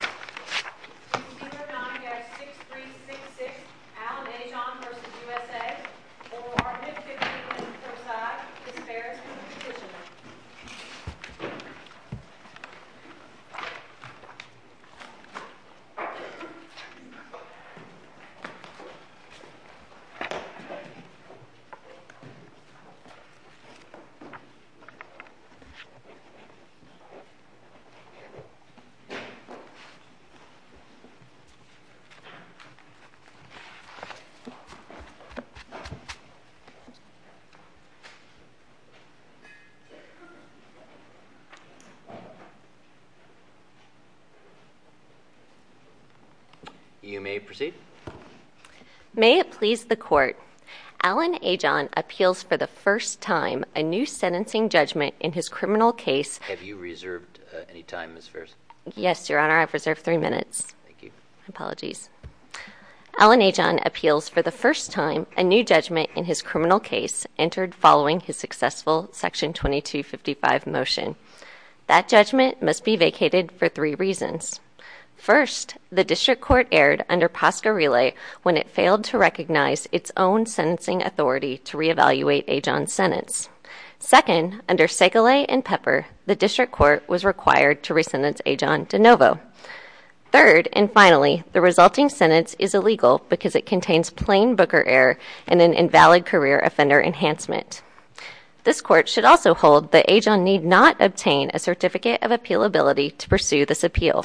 6366 Al Ajan v. USA, Obama, Arden, Phippen, Versailles, Disparities, and Decisions You may proceed. May it please the Court, Alan Ajan appeals for the first time a new sentencing judgment in his criminal case. Have you reserved any time, Ms. Farris? Yes, Your Honor, I've reserved three minutes. Apologies. Alan Ajan appeals for the first time a new judgment in his criminal case entered following his successful Section 2255 motion. That judgment must be vacated for three reasons. First, the District Court erred under Posca Relay when it failed to recognize its own Second, under Segele and Pepper, the District Court was required to re-sentence Ajan de Novo. Third, and finally, the resulting sentence is illegal because it contains plain Booker error and an invalid career offender enhancement. This Court should also hold that Ajan need not obtain a Certificate of Appealability to pursue this appeal.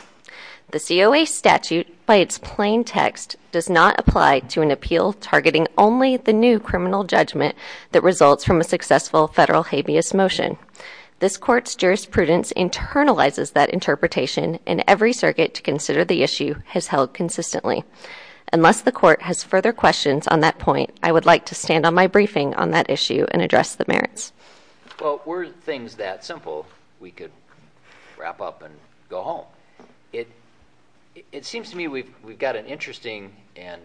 The COA statute, by its plain text, does not apply to an appeal targeting only the new federal habeas motion. This Court's jurisprudence internalizes that interpretation and every circuit to consider the issue has held consistently. Unless the Court has further questions on that point, I would like to stand on my briefing on that issue and address the merits. Well, were things that simple, we could wrap up and go home. It seems to me we've got an interesting and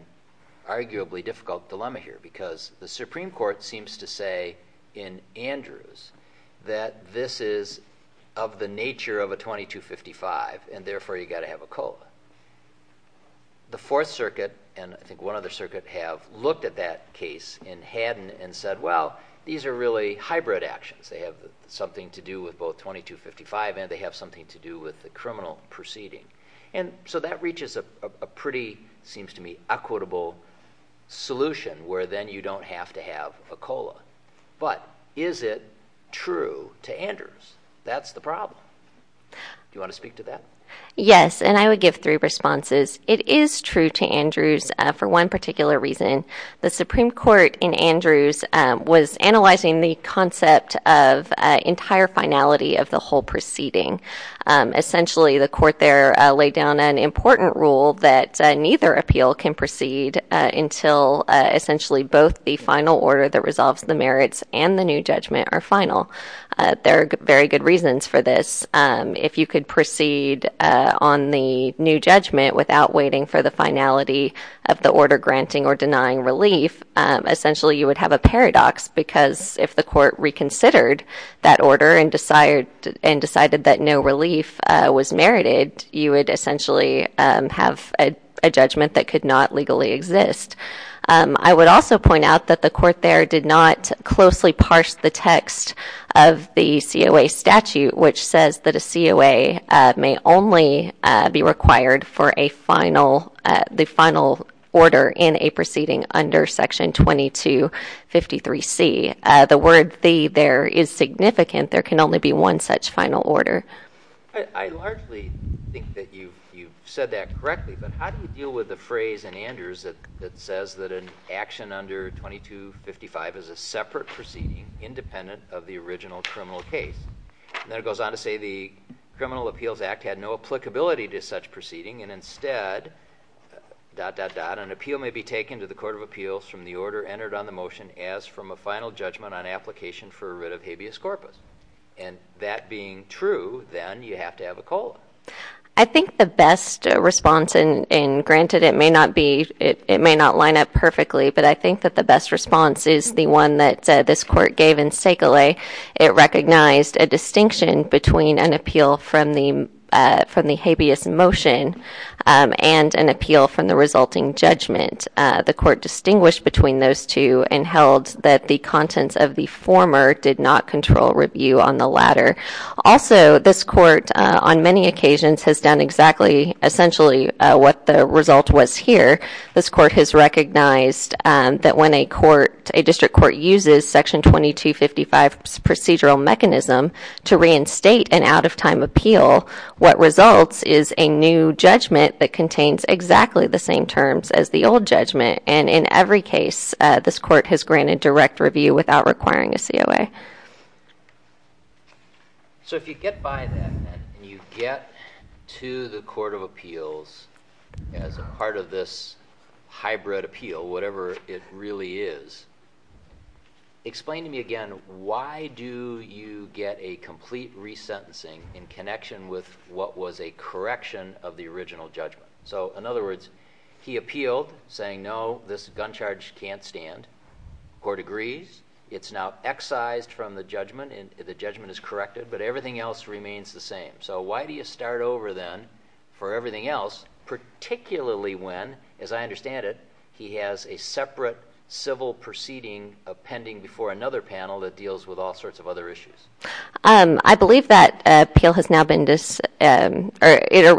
arguably difficult dilemma here because the Andrews that this is of the nature of a 2255 and therefore you've got to have a COLA. The Fourth Circuit and I think one other circuit have looked at that case in Haddon and said, well, these are really hybrid actions. They have something to do with both 2255 and they have something to do with the criminal proceeding. And so that reaches a pretty, seems to me, equitable solution where then you don't have to have a COLA. But is it true to Andrews? That's the problem. Do you want to speak to that? Yes, and I would give three responses. It is true to Andrews for one particular reason. The Supreme Court in Andrews was analyzing the concept of entire finality of the whole proceeding. Essentially, the Court there laid down an important rule that neither appeal can proceed until essentially both the final order that resolves the merits and the new judgment are final. There are very good reasons for this. If you could proceed on the new judgment without waiting for the finality of the order granting or denying relief, essentially you would have a paradox because if the Court reconsidered that order and decided that no relief was merited, you would essentially have a judgment that could not legally exist. I would also point out that the Court there did not closely parse the text of the COA statute, which says that a COA may only be required for the final order in a proceeding under Section 2253C. The word the there is significant. There can only be one such final order. I largely think that you've said that correctly, but how do you deal with the phrase in Andrews that says that an action under 2255 is a separate proceeding independent of the original criminal case? And then it goes on to say the Criminal Appeals Act had no applicability to such proceeding and instead, dot, dot, dot, an appeal may be taken to the Court of Appeals from the order entered on the motion as from a final judgment on application for a writ of habeas corpus. And that being true, then you have to have a COLA. I think the best response, and granted, it may not line up perfectly, but I think that the best response is the one that this Court gave in Segele. It recognized a distinction between an appeal from the habeas motion and an appeal from the resulting judgment. The Court distinguished between those two and held that the contents of the former did not control review on the latter. Also, this Court on many occasions has done exactly, essentially, what the result was here. This Court has recognized that when a court, a district court uses Section 2255's procedural mechanism to reinstate an out-of-time appeal, what results is a new judgment that contains exactly the same terms as the old judgment. And in every case, this Court has granted direct review without requiring a COA. So if you get by that, and you get to the Court of Appeals as a part of this hybrid appeal, whatever it really is, explain to me again why do you get a complete resentencing in connection with what was a correction of the original judgment? So, in other words, he appealed saying, no, this gun charge can't stand. The Court agrees. It's now excised from the judgment, and the judgment is corrected, but everything else remains the same. So why do you start over then for everything else, particularly when, as I understand it, he has a separate civil proceeding pending before another panel that deals with all sorts of other issues? I believe that appeal has now been—it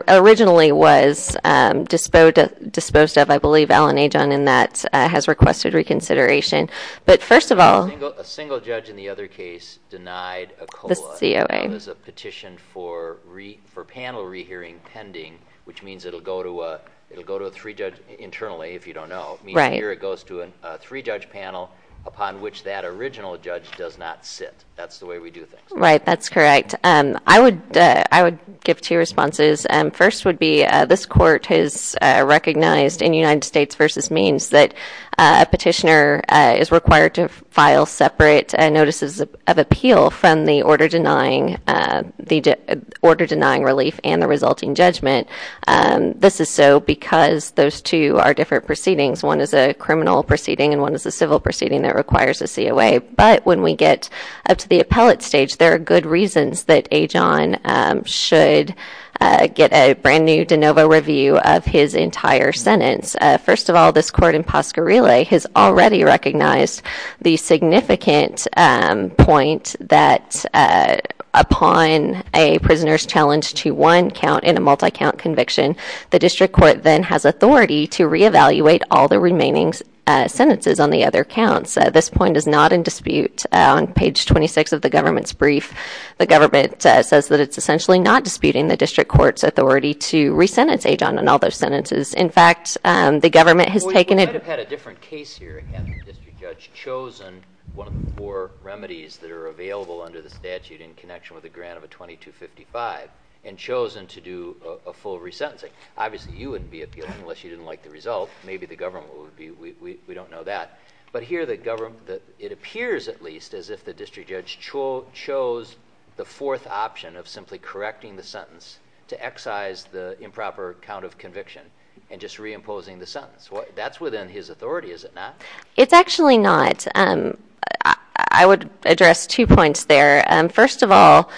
originally was disposed of. I believe Alan Ajon in that has requested reconsideration. But first of all— A single judge in the other case denied a COA. The COA. It was a petition for panel rehearing pending, which means it'll go to a three-judge—internally, if you don't know—means here it goes to a three-judge panel upon which that original judge does not sit. That's the way we do things. Right, that's correct. I would give two responses. First would be this Court has recognized in United States v. Means that a petitioner is required to file separate notices of appeal from the order denying relief and the resulting judgment. This is so because those two are different proceedings. One is a criminal proceeding and one is a civil proceeding that requires a COA. But when we get up to the appellate stage, there are good reasons that Ajon should get a brand-new de novo review of his entire sentence. First of all, this Court in Pasquarela has already recognized the significant point that upon a prisoner's challenge to one count in a multi-count conviction, the District Court then has authority to reevaluate all the remaining sentences on the other counts. This point is not in dispute. On page 26 of the government's brief, the government says that it's essentially not disputing the District Court's authority to re-sentence Ajon on all those sentences. In fact, the government has taken it— Well, you might have had a different case here. Again, the District Judge chosen one of the four remedies that are available under the statute in connection with the grant of a 2255 and chosen to do a full re-sentencing. Obviously, you wouldn't be appealing unless you didn't like the result. Maybe the government would be. We don't know that. But here, it appears at least as if the District Judge chose the fourth option of simply correcting the sentence to excise the improper count of conviction and just re-imposing the sentence. That's within his authority, is it not? It's actually not. I would address two points there. First of all,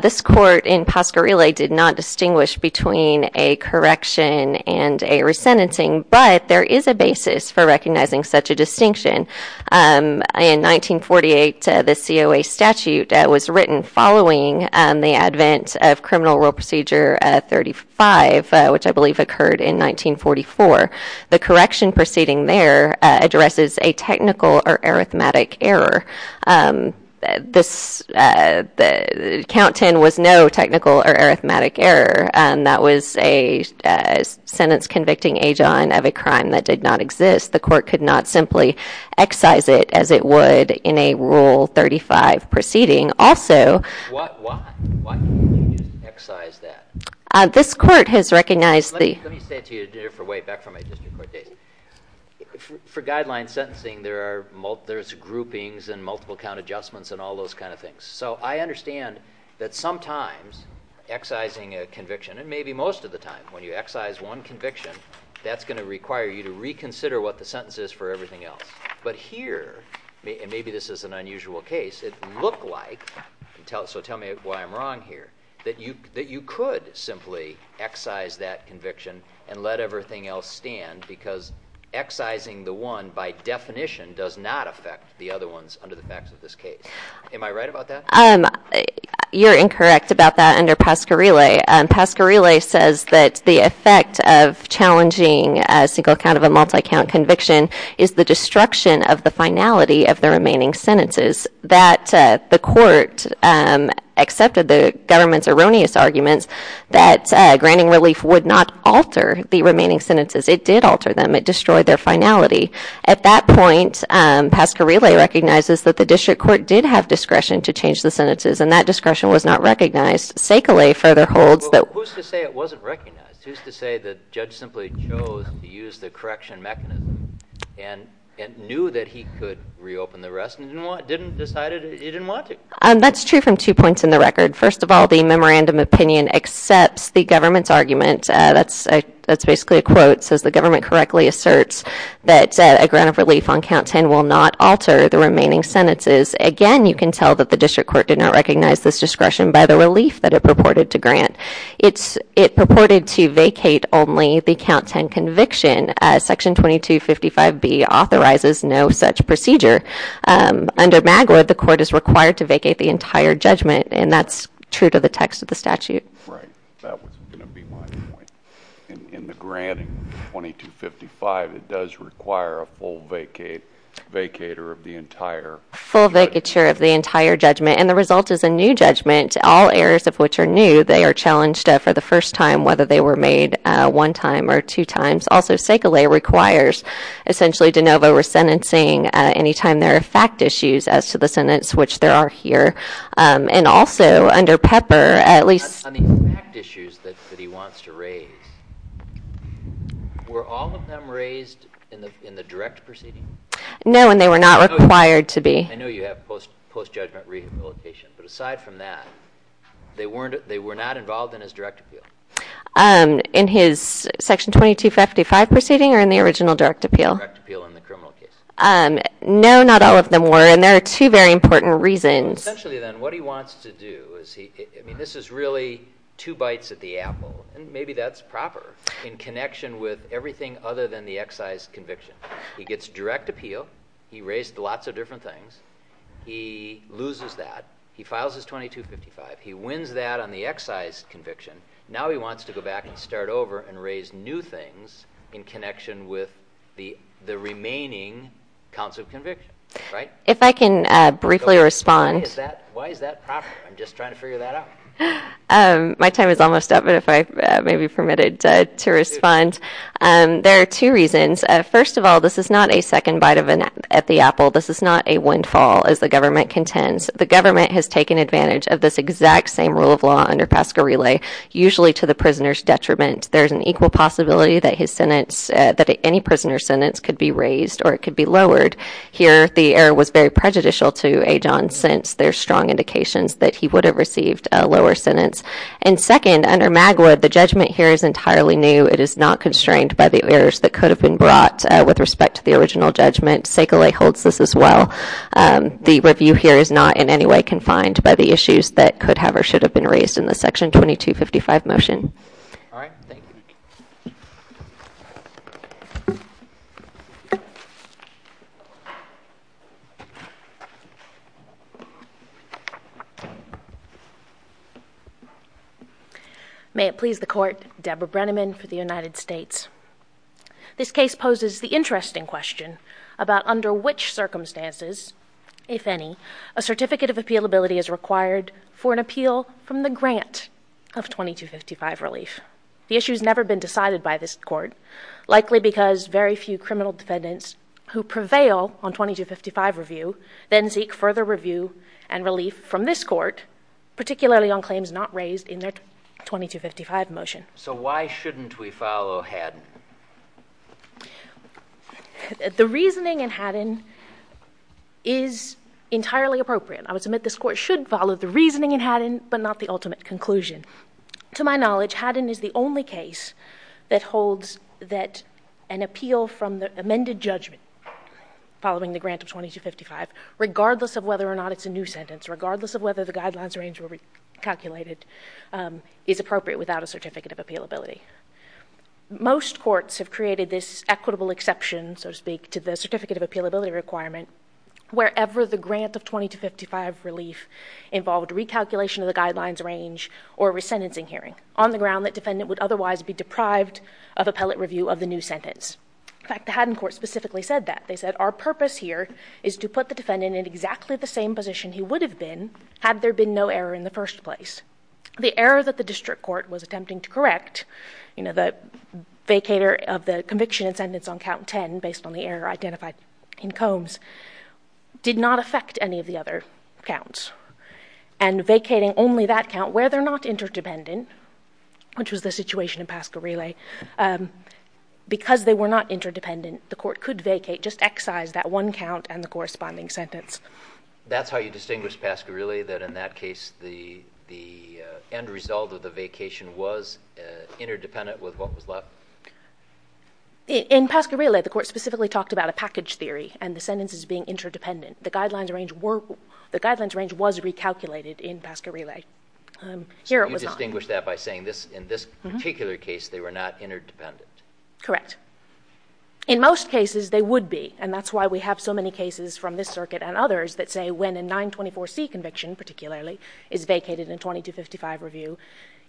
this Court in Pasquarela did not distinguish between a correction and a re-sentencing, but there is a basis for recognizing such a distinction. In 1948, the COA statute was written following the advent of Criminal Rule Procedure 35, which I believe occurred in 1944. The correction proceeding there addresses a technical or arithmetic error. Count 10 was no technical or arithmetic error. That was a sentence convicting Ajon of a crime that did not exist. The Court could not simply excise it as it would in a Rule 35 proceeding. Also— Why? Why can't you just excise that? This Court has recognized the— Let me say it to you a different way, back from my District Court days. For guideline sentencing, there's groupings and multiple count adjustments and all those kind of things. So I understand that sometimes excising a conviction, and maybe most of the time, when the sentence is for everything else. But here, and maybe this is an unusual case, it looked like—so tell me why I'm wrong here—that you could simply excise that conviction and let everything else stand because excising the one by definition does not affect the other ones under the facts of this case. Am I right about that? You're incorrect about that under Pasquarela. Pasquarela says that the effect of challenging a single count of a multi-count conviction is the destruction of the finality of the remaining sentences. That the Court accepted the government's erroneous arguments that granting relief would not alter the remaining sentences. It did alter them. It destroyed their finality. At that point, Pasquarela recognizes that the District Court did have discretion to change the sentences, and that discretion was not recognized. Sakelay further holds that— Well, who's to say it wasn't recognized? Who's to say the judge simply chose to use the correction mechanism and knew that he could reopen the rest and didn't decide he didn't want to? That's true from two points in the record. First of all, the memorandum opinion accepts the government's argument—that's basically a quote—says the government correctly asserts that a grant of relief on count 10 will not alter the remaining sentences. Again, you can tell that the District Court did not recognize this discretion by the purported to grant. It purported to vacate only the count 10 conviction. Section 2255B authorizes no such procedure. Under Magwood, the Court is required to vacate the entire judgment, and that's true to the text of the statute. Right. That was going to be my point. In the granting, 2255, it does require a full vacate—vacator of the entire— Full vacature of the entire judgment, and the result is a new judgment. All errors of which are new, they are challenged for the first time, whether they were made one time or two times. Also, Segele requires essentially de novo resentencing any time there are fact issues as to the sentence, which there are here. And also, under Pepper, at least— On the fact issues that he wants to raise, were all of them raised in the direct proceeding? No, and they were not required to be. I know you have post-judgment rehabilitation, but aside from that, they were not involved in his direct appeal. In his Section 2255 proceeding or in the original direct appeal? Direct appeal in the criminal case. No, not all of them were, and there are two very important reasons. Essentially, then, what he wants to do is he—I mean, this is really two bites at the apple, and maybe that's proper in connection with everything other than the excise conviction. He gets direct appeal. He raised lots of different things. He loses that. He files his 2255. He wins that on the excise conviction. Now he wants to go back and start over and raise new things in connection with the remaining counts of conviction, right? If I can briefly respond— Why is that proper? I'm just trying to figure that out. My time is almost up, but if I may be permitted to respond. There are two reasons. First of all, this is not a second bite at the apple. This is not a windfall, as the government contends. The government has taken advantage of this exact same rule of law under Pasquarelli, usually to the prisoner's detriment. There's an equal possibility that his sentence—that any prisoner's sentence could be raised or it could be lowered. Here, the error was very prejudicial to Ajon, since there's strong indications that he would have received a lower sentence. And second, under Magwood, the judgment here is entirely new. It is not constrained by the errors that could have been brought with respect to the original judgment. Sekalei holds this as well. The review here is not in any way confined by the issues that could have or should have been raised in the Section 2255 motion. All right. Thank you. May it please the Court. Deborah Brenneman for the United States. This case poses the interesting question about under which circumstances, if any, a certificate of appealability is required for an appeal from the grant of 2255 relief. The issue has never been decided by this Court, likely because very few criminal defendants who prevail on 2255 review then seek further review and relief from this Court, particularly on claims not raised in their 2255 motion. So why shouldn't we follow Haddon? The reasoning in Haddon is entirely appropriate. I would submit this Court should follow the reasoning in Haddon, but not the ultimate conclusion. To my knowledge, Haddon is the only case that holds that an appeal from the amended judgment following the grant of 2255, regardless of whether or not it's a new sentence, regardless of whether the guidelines range were recalculated, is appropriate without a certificate of appealability. Most courts have created this equitable exception, so to speak, to the certificate of appealability requirement, wherever the grant of 2255 relief involved recalculation of the resentencing hearing, on the ground that defendant would otherwise be deprived of appellate review of the new sentence. In fact, the Haddon Court specifically said that. They said, our purpose here is to put the defendant in exactly the same position he would have been had there been no error in the first place. The error that the district court was attempting to correct, the vacator of the conviction and sentence on count 10, based on the error identified in Combs, did not affect any of the other counts. And vacating only that count, where they're not interdependent, which was the situation in Pasquarelli, because they were not interdependent, the court could vacate, just excise that one count and the corresponding sentence. That's how you distinguish Pasquarelli, that in that case, the end result of the vacation was interdependent with what was left? In Pasquarelli, the court specifically talked about a package theory and the sentences being interdependent. The guidelines range was recalculated in Pasquarelli. Here it was not. So you distinguish that by saying in this particular case, they were not interdependent? Correct. In most cases, they would be. And that's why we have so many cases from this circuit and others that say when a 924C conviction, particularly, is vacated in 2255 review,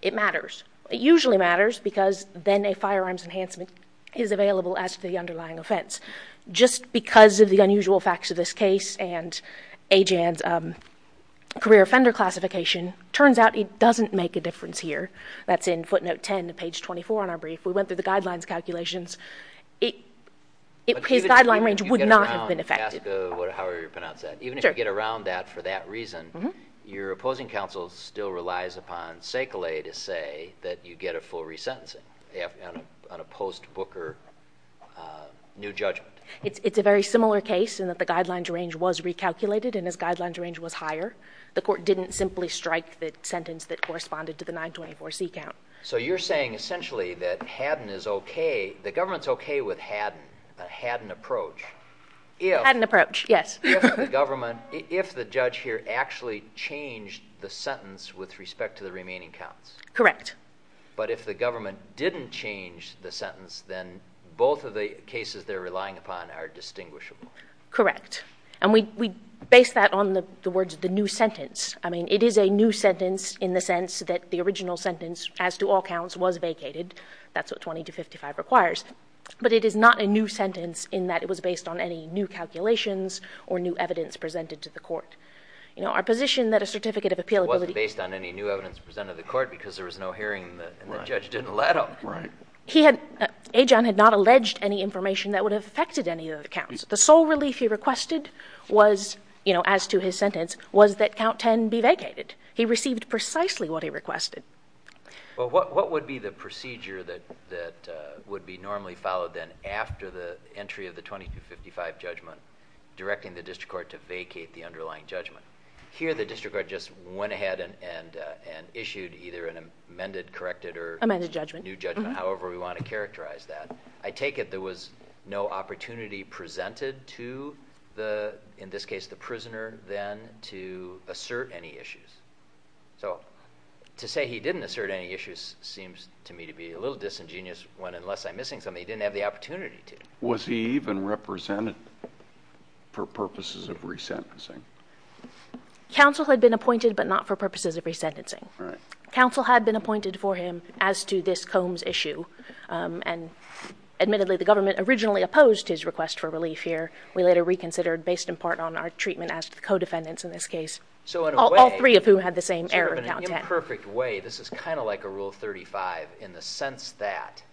it matters. It usually matters because then a firearms enhancement is available as to the underlying offense. Just because of the unusual facts of this case and Ajan's career offender classification, turns out it doesn't make a difference here. That's in footnote 10 to page 24 on our brief. We went through the guidelines calculations. His guideline range would not have been affected. But even if you get around that, for that reason, your opposing counsel still relies upon Sekele to say that you get a full resentencing. On a post-Booker new judgment. It's a very similar case in that the guidelines range was recalculated. And his guidelines range was higher. The court didn't simply strike the sentence that corresponded to the 924C count. So you're saying, essentially, that Haddon is OK. The government's OK with Haddon, a Haddon approach. Haddon approach, yes. If the judge here actually changed the sentence with respect to the remaining counts. Correct. But if the government didn't change the sentence, then both of the cases they're relying upon are distinguishable. Correct. And we base that on the words, the new sentence. I mean, it is a new sentence in the sense that the original sentence, as to all counts, was vacated. That's what 20 to 55 requires. But it is not a new sentence in that it was based on any new calculations or new evidence presented to the court. You know, our position that a certificate of appeal was based on any new evidence presented to the court because there was no hearing, and the judge didn't let him. Right. He had, Ajon had not alleged any information that would have affected any of the counts. The sole relief he requested was, you know, as to his sentence, was that count 10 be vacated. He received precisely what he requested. Well, what would be the procedure that would be normally followed then after the entry of the 20 to 55 judgment, directing the district court to vacate the underlying judgment? Here, the district court just went ahead and issued either an amended, corrected, or- Amended judgment. New judgment, however we want to characterize that. I take it there was no opportunity presented to the, in this case, the prisoner then to assert any issues. So to say he didn't assert any issues seems to me to be a little disingenuous when unless I'm missing something, he didn't have the opportunity to. Was he even represented for purposes of resentencing? Counsel had been appointed, but not for purposes of resentencing. Right. Counsel had been appointed for him as to this Combs issue. And admittedly, the government originally opposed his request for relief here. We later reconsidered based in part on our treatment as co-defendants in this case. So in a way- All three of whom had the same error, count 10. In a perfect way, this is kind of like a Rule 35 in the sense that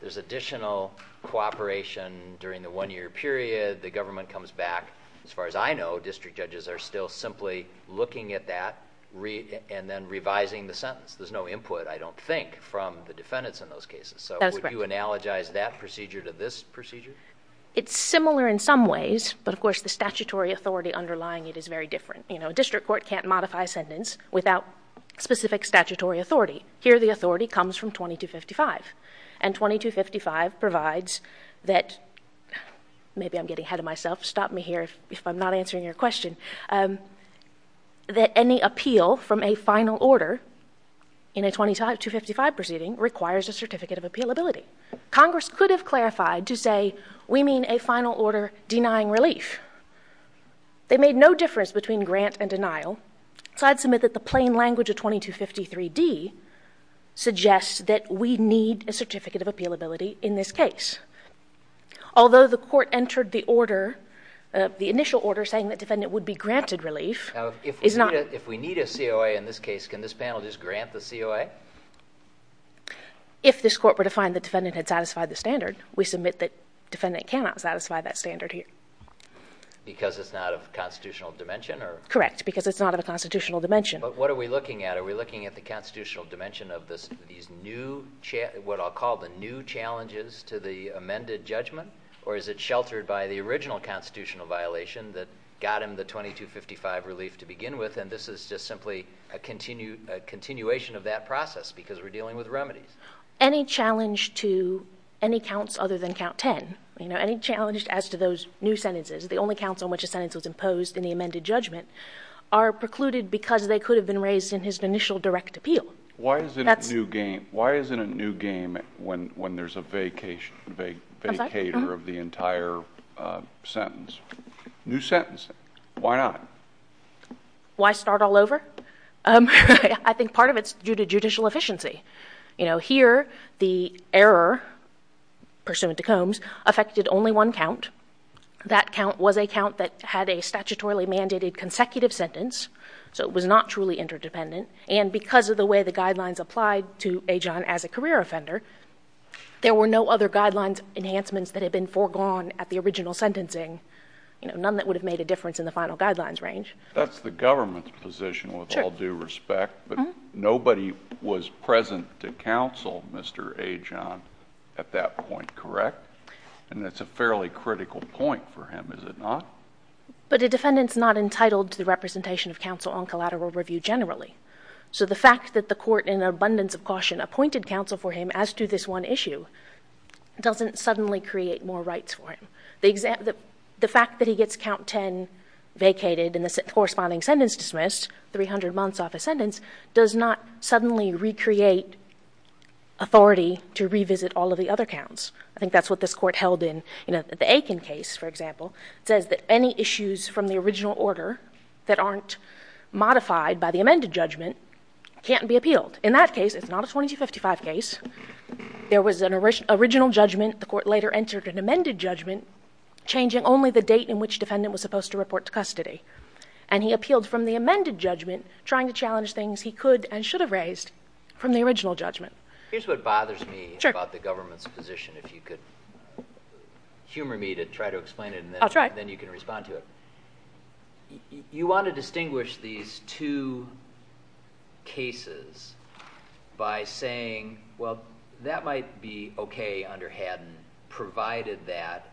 there's additional cooperation during the one-year period. The government comes back. As far as I know, district judges are still simply looking at that and then revising the sentence. There's no input, I don't think, from the defendants in those cases. So would you analogize that procedure to this procedure? It's similar in some ways. But of course, the statutory authority underlying it is very different. District court can't modify a sentence without specific statutory authority. Here, the authority comes from 2255. And 2255 provides that, maybe I'm getting ahead of myself. Stop me here if I'm not answering your question. That any appeal from a final order in a 2255 proceeding requires a Certificate of Appealability. Congress could have clarified to say, we mean a final order denying relief. They made no difference between grant and denial. So I'd submit that the plain language of 2253d suggests that we need a Certificate of Appealability in this case. Although the court entered the order, the initial order saying that defendant would be granted relief. Now, if we need a COA in this case, can this panel just grant the COA? If this court were to find the defendant had satisfied the standard, we submit that defendant cannot satisfy that standard here. Because it's not of constitutional dimension or? Correct, because it's not of a constitutional dimension. But what are we looking at? Are we looking at the constitutional dimension of these new, what I'll call the new challenges to the amended judgment? Or is it sheltered by the original constitutional violation that got him the 2255 relief to begin with? And this is just simply a continuation of that process because we're dealing with remedies. Any challenge to any counts other than count 10. You know, any challenge as to those new sentences, the only counts on which a sentence was imposed in the amended judgment are precluded because they could have been raised in his initial direct appeal. Why is it a new game when there's a vacator of the entire sentence? New sentence, why not? Why start all over? I think part of it's due to judicial efficiency. You know, here the error pursuant to Combs affected only one count. That count was a count that had a statutorily mandated consecutive sentence. So it was not truly interdependent. And because of the way the guidelines applied to Ajon as a career offender, there were no other guidelines enhancements that had been foregone at the original sentencing. You know, none that would have made a difference in the final guidelines range. That's the government's position with all due respect, but nobody was present to counsel Mr. Ajon at that point, correct? And that's a fairly critical point for him, is it not? But a defendant's not entitled to the representation of counsel on collateral review generally. So the fact that the court, in abundance of caution, appointed counsel for him as to this one issue doesn't suddenly create more rights for him. The fact that he gets count 10 vacated and the corresponding sentence dismissed, 300 months off a sentence, does not suddenly recreate authority to revisit all of the other counts. I think that's what this court held in the Aiken case, for example, says that any issues from the original order that aren't modified by the amended judgment can't be appealed. In that case, it's not a 2255 case. There was an original judgment. The court later entered an amended judgment, changing only the date in which defendant was supposed to report to custody. And he appealed from the amended judgment, trying to challenge things he could and should have raised from the original judgment. Here's what bothers me about the government's position, if you could humor me to try to explain it and then you can respond to it. You want to distinguish these two cases by saying, well, that might be OK under Haddon, provided that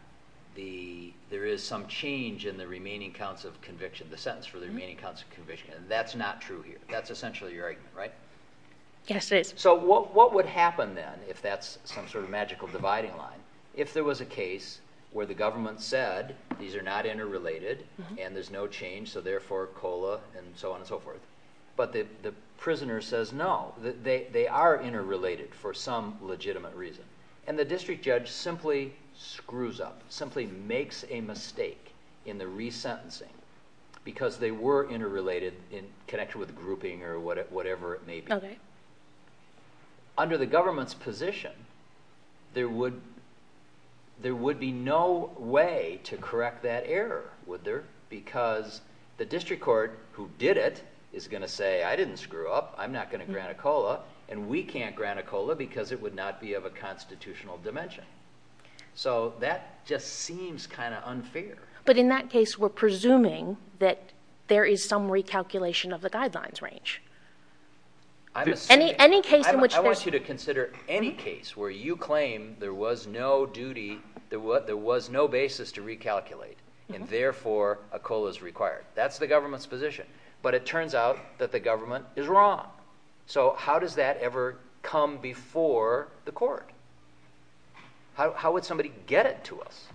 there is some change in the remaining counts of conviction, the sentence for the remaining counts of conviction. That's not true here. That's essentially your argument, right? Yes, it is. So what would happen then, if that's some sort of magical dividing line, if there was a case where the government said, these are not interrelated and there's no change, so therefore COLA and so on and so forth. But the prisoner says, no, they are interrelated for some legitimate reason. And the district judge simply screws up, simply makes a mistake in the resentencing, because they were interrelated in connection with grouping or whatever it may be. OK. Under the government's position, there would be no way to correct that error, would there? Because the district court who did it is going to say, I didn't screw up, I'm not going to grant a COLA, and we can't grant a COLA because it would not be of a constitutional dimension. So that just seems kind of unfair. But in that case, we're presuming that there is some recalculation of the guidelines range. Any case in which there's- I want you to consider any case where you claim there was no duty, there was no basis to recalculate, and therefore a COLA is required. That's the government's position. But it turns out that the government is wrong. So how does that ever come before the court? How would somebody get it to us?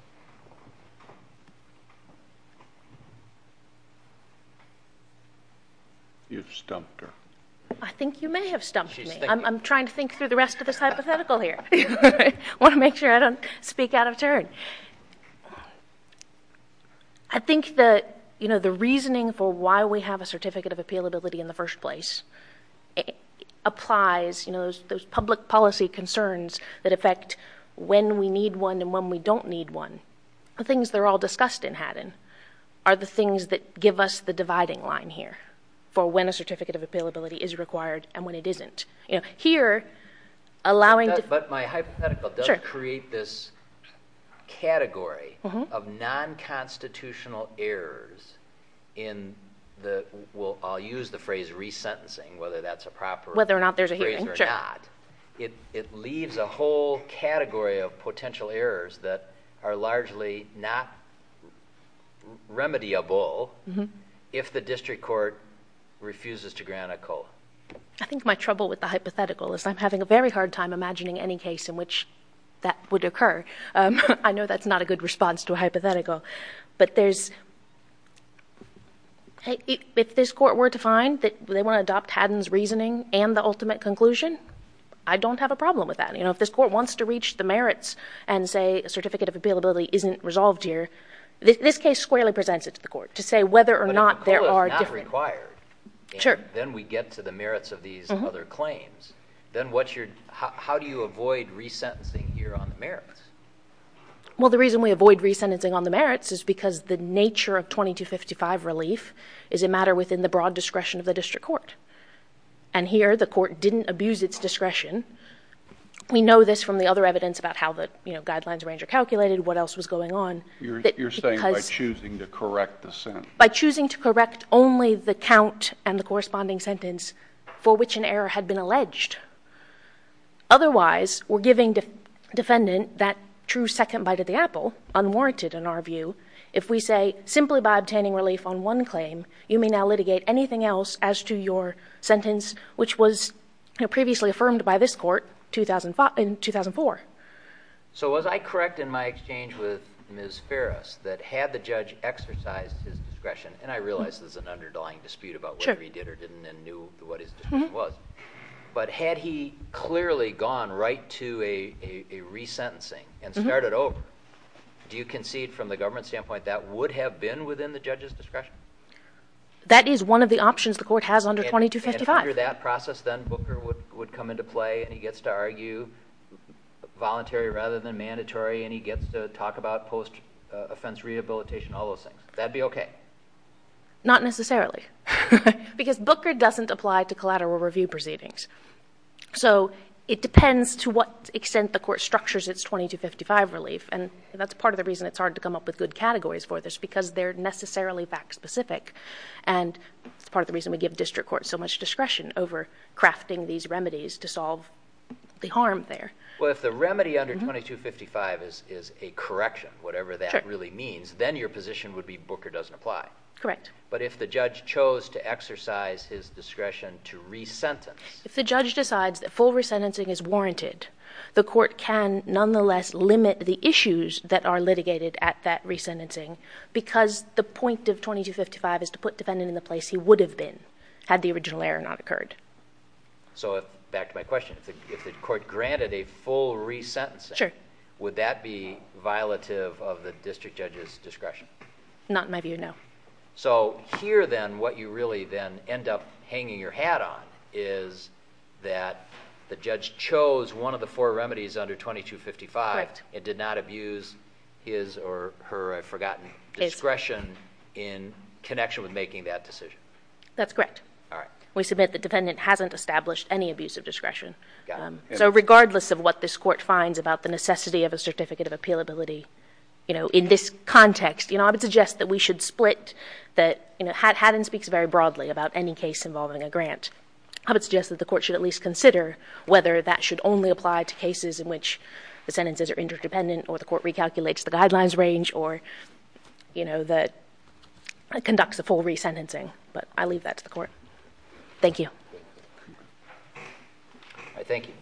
You've stumped her. I think you may have stumped me. I'm trying to think through the rest of this hypothetical here. I want to make sure I don't speak out of turn. I think that the reasoning for why we have a certificate of appealability in the first place applies, those public policy concerns that affect when we need one and when we don't need one, the things they're all discussed in Haddon, are the things that give us the dividing line here for when a certificate of appealability is required and when it isn't. Here, allowing- But my hypothetical does create this category of non-constitutional errors in the- I'll use the phrase re-sentencing, whether that's a proper- Whether or not there's a hearing, sure. Whether or not. It leaves a whole category of potential errors that are largely not refuses to grant a COLA. I think my trouble with the hypothetical is I'm having a very hard time imagining any case in which that would occur. I know that's not a good response to a hypothetical, but there's- If this court were to find that they want to adopt Haddon's reasoning and the ultimate conclusion, I don't have a problem with that. If this court wants to reach the merits and say a certificate of appealability isn't resolved here, this case squarely presents it to the court to say whether or not there are different- Sure. Then we get to the merits of these other claims. Then what's your- How do you avoid re-sentencing here on the merits? Well, the reason we avoid re-sentencing on the merits is because the nature of 2255 relief is a matter within the broad discretion of the district court. And here, the court didn't abuse its discretion. We know this from the other evidence about how the guidelines range are calculated, what else was going on. You're saying by choosing to correct the sentence. By choosing to correct only the count and the corresponding sentence for which an error had been alleged. Otherwise, we're giving defendant that true second bite at the apple, unwarranted in our view. If we say simply by obtaining relief on one claim, you may now litigate anything else as to your sentence, which was previously affirmed by this court in 2004. So was I correct in my exchange with Ms. Farris that had the judge exercised his discretion, and I realize there's an underlying dispute about whether he did or didn't and knew what his discretion was, but had he clearly gone right to a re-sentencing and started over, do you concede from the government standpoint that would have been within the judge's discretion? That is one of the options the court has under 2255. Under that process, then, Booker would come into play, and he gets to argue voluntary rather than mandatory, and he gets to talk about post-offense rehabilitation, all those things. That'd be OK. Not necessarily, because Booker doesn't apply to collateral review proceedings. So it depends to what extent the court structures its 2255 relief, and that's part of the reason it's hard to come up with good categories for this, because they're necessarily fact-specific. And it's part of the reason we give district courts so much discretion over crafting these remedies to solve the harm there. Well, if the remedy under 2255 is a correction, whatever that really means, then your position would be Booker doesn't apply. Correct. But if the judge chose to exercise his discretion to re-sentence. If the judge decides that full re-sentencing is warranted, the court can nonetheless limit the issues that are litigated at that re-sentencing, because the point of 2255 is to put defendant in the place he would have been, had the original error not occurred. So back to my question. If the court granted a full re-sentencing, would that be violative of the district judge's discretion? Not in my view, no. So here, then, what you really then end up hanging your hat on is that the judge chose one of the four remedies under 2255 and did not abuse his or her, I've forgotten, discretion in connection with making that decision. That's correct. All right. We submit the defendant hasn't established any abuse of discretion. So regardless of what this court finds about the necessity of a certificate of appealability in this context, I would suggest that we should split that. Haddon speaks very broadly about any case involving a grant. I would suggest that the court should at least consider whether that should only apply to cases in which the sentences are interdependent, or the court recalculates the guidelines range, or conducts a full re-sentencing. But I leave that to the court. Thank you. All right. Thank you.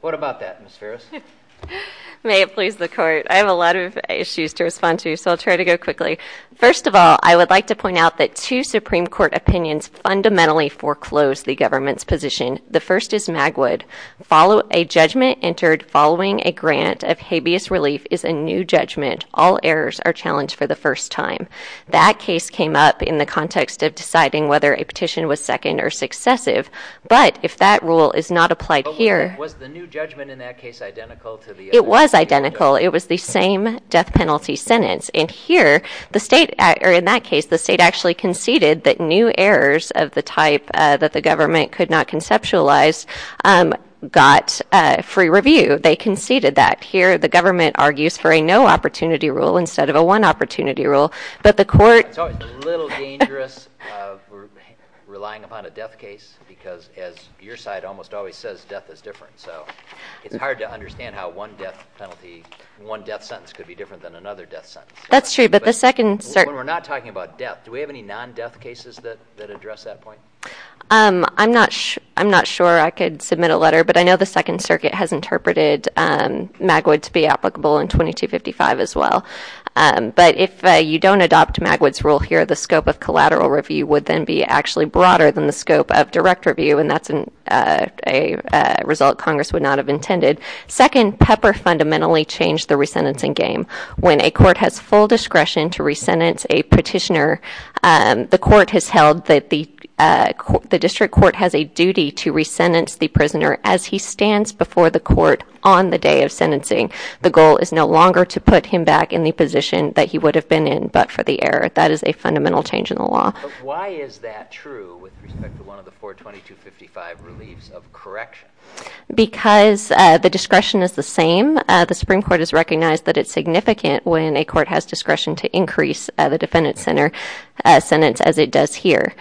What about that, Ms. Ferris? May it please the court. I have a lot of issues to respond to, so I'll try to go quickly. First of all, I would like to point out that two Supreme Court opinions fundamentally foreclose the government's position. The first is Magwood. Follow a judgment entered following a grant of habeas relief is a new judgment. All errors are challenged for the first time. That case came up in the context of deciding whether a petition was second or successive. But if that rule is not applied here. Was the new judgment in that case identical to the other? It was identical. It was the same death penalty sentence. And here, in that case, the state actually conceded that new errors of the type that the government could not conceptualize got free review. They conceded that. Here, the government argues for a no opportunity rule instead of a one opportunity rule. But the court. It's always a little dangerous of relying upon a death case. Because as your side almost always says, death is different. So it's hard to understand how one death penalty, one death sentence could be different than another death sentence. That's true. But the second. We're not talking about death. Do we have any non-death cases that address that point? I'm not sure I could submit a letter. But I know the Second Circuit has interpreted Magwood to be applicable in 2255 as well. But if you don't adopt Magwood's rule here, the scope of collateral review would then be actually broader than the scope of direct review. And that's a result Congress would not have intended. Second, Pepper fundamentally changed the re-sentencing game. When a court has full discretion to re-sentence a petitioner, the court has held that the district court has a duty to re-sentence the prisoner as he stands before the court on the day of sentencing. The goal is no longer to put him back in the position that he would have been in but for the error. That is a fundamental change in the law. Why is that true with respect to one of the four 2255 reliefs of correction? Because the discretion is the same. The Supreme Court has recognized that it's significant when a court has discretion to increase the defendant's sentence as it does here.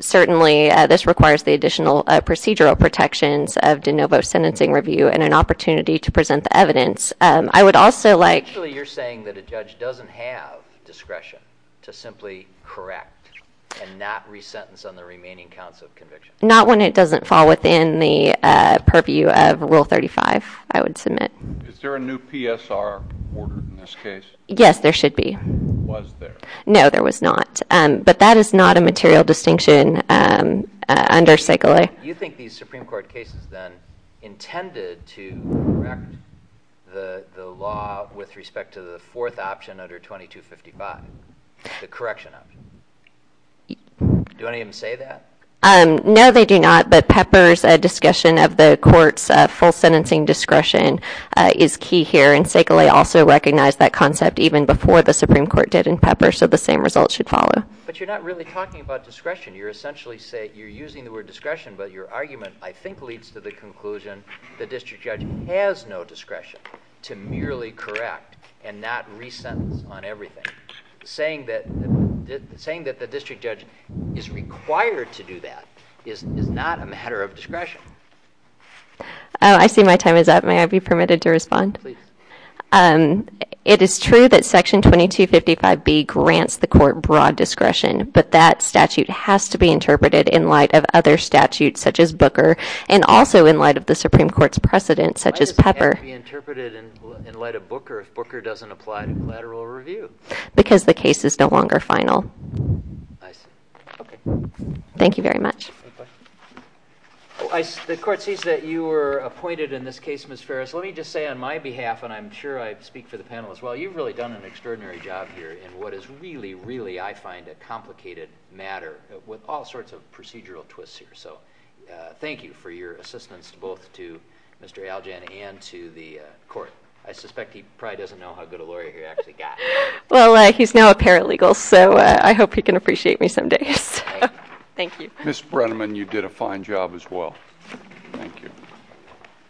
Certainly, this requires the additional procedural protections of de novo sentencing review and an opportunity to present the evidence. I would also like- So you're saying that a judge doesn't have discretion to simply correct and not re-sentence on the remaining counts of conviction? Not when it doesn't fall within the purview of Rule 35, I would submit. Is there a new PSR order in this case? Yes, there should be. Was there? No, there was not. But that is not a material distinction under Segele. You think these Supreme Court cases then intended to correct the law with respect to the fourth option under 2255, the correction option? Do any of them say that? No, they do not. But Pepper's discussion of the court's full sentencing discretion is key here. And Segele also recognized that concept even before the Supreme Court did in Pepper. So the same results should follow. But you're not really talking about discretion. You're essentially saying- you're using the word discretion, but your argument, I think, leads to the conclusion the district judge has no discretion to merely correct and not re-sentence on everything. Saying that the district judge is required to do that is not a matter of discretion. Oh, I see my time is up. May I be permitted to respond? Please. It is true that Section 2255B grants the court broad discretion. But that statute has to be interpreted in light of other statutes, such as Booker, and also in light of the Supreme Court's precedent, such as Pepper. Why does it have to be interpreted in light of Booker if Booker doesn't apply to collateral review? Because the case is no longer final. I see. OK. Thank you very much. The court sees that you were appointed in this case, Ms. Ferris. Let me just say on my behalf, and I'm sure I speak for the panel as well, you've really done an extraordinary job here in what is really, really, I find, a complicated matter with all sorts of procedural twists here. So thank you for your assistance, both to Mr. Aljan and to the court. I suspect he probably doesn't know how good a lawyer he actually got. Well, he's now a paralegal. So I hope he can appreciate me some day. Thank you. Ms. Brenneman, you did a fine job as well. Thank you.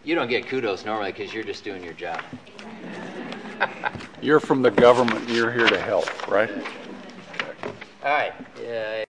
You don't get kudos normally because you're just doing your job. You're from the government. You're here to help, right? All right.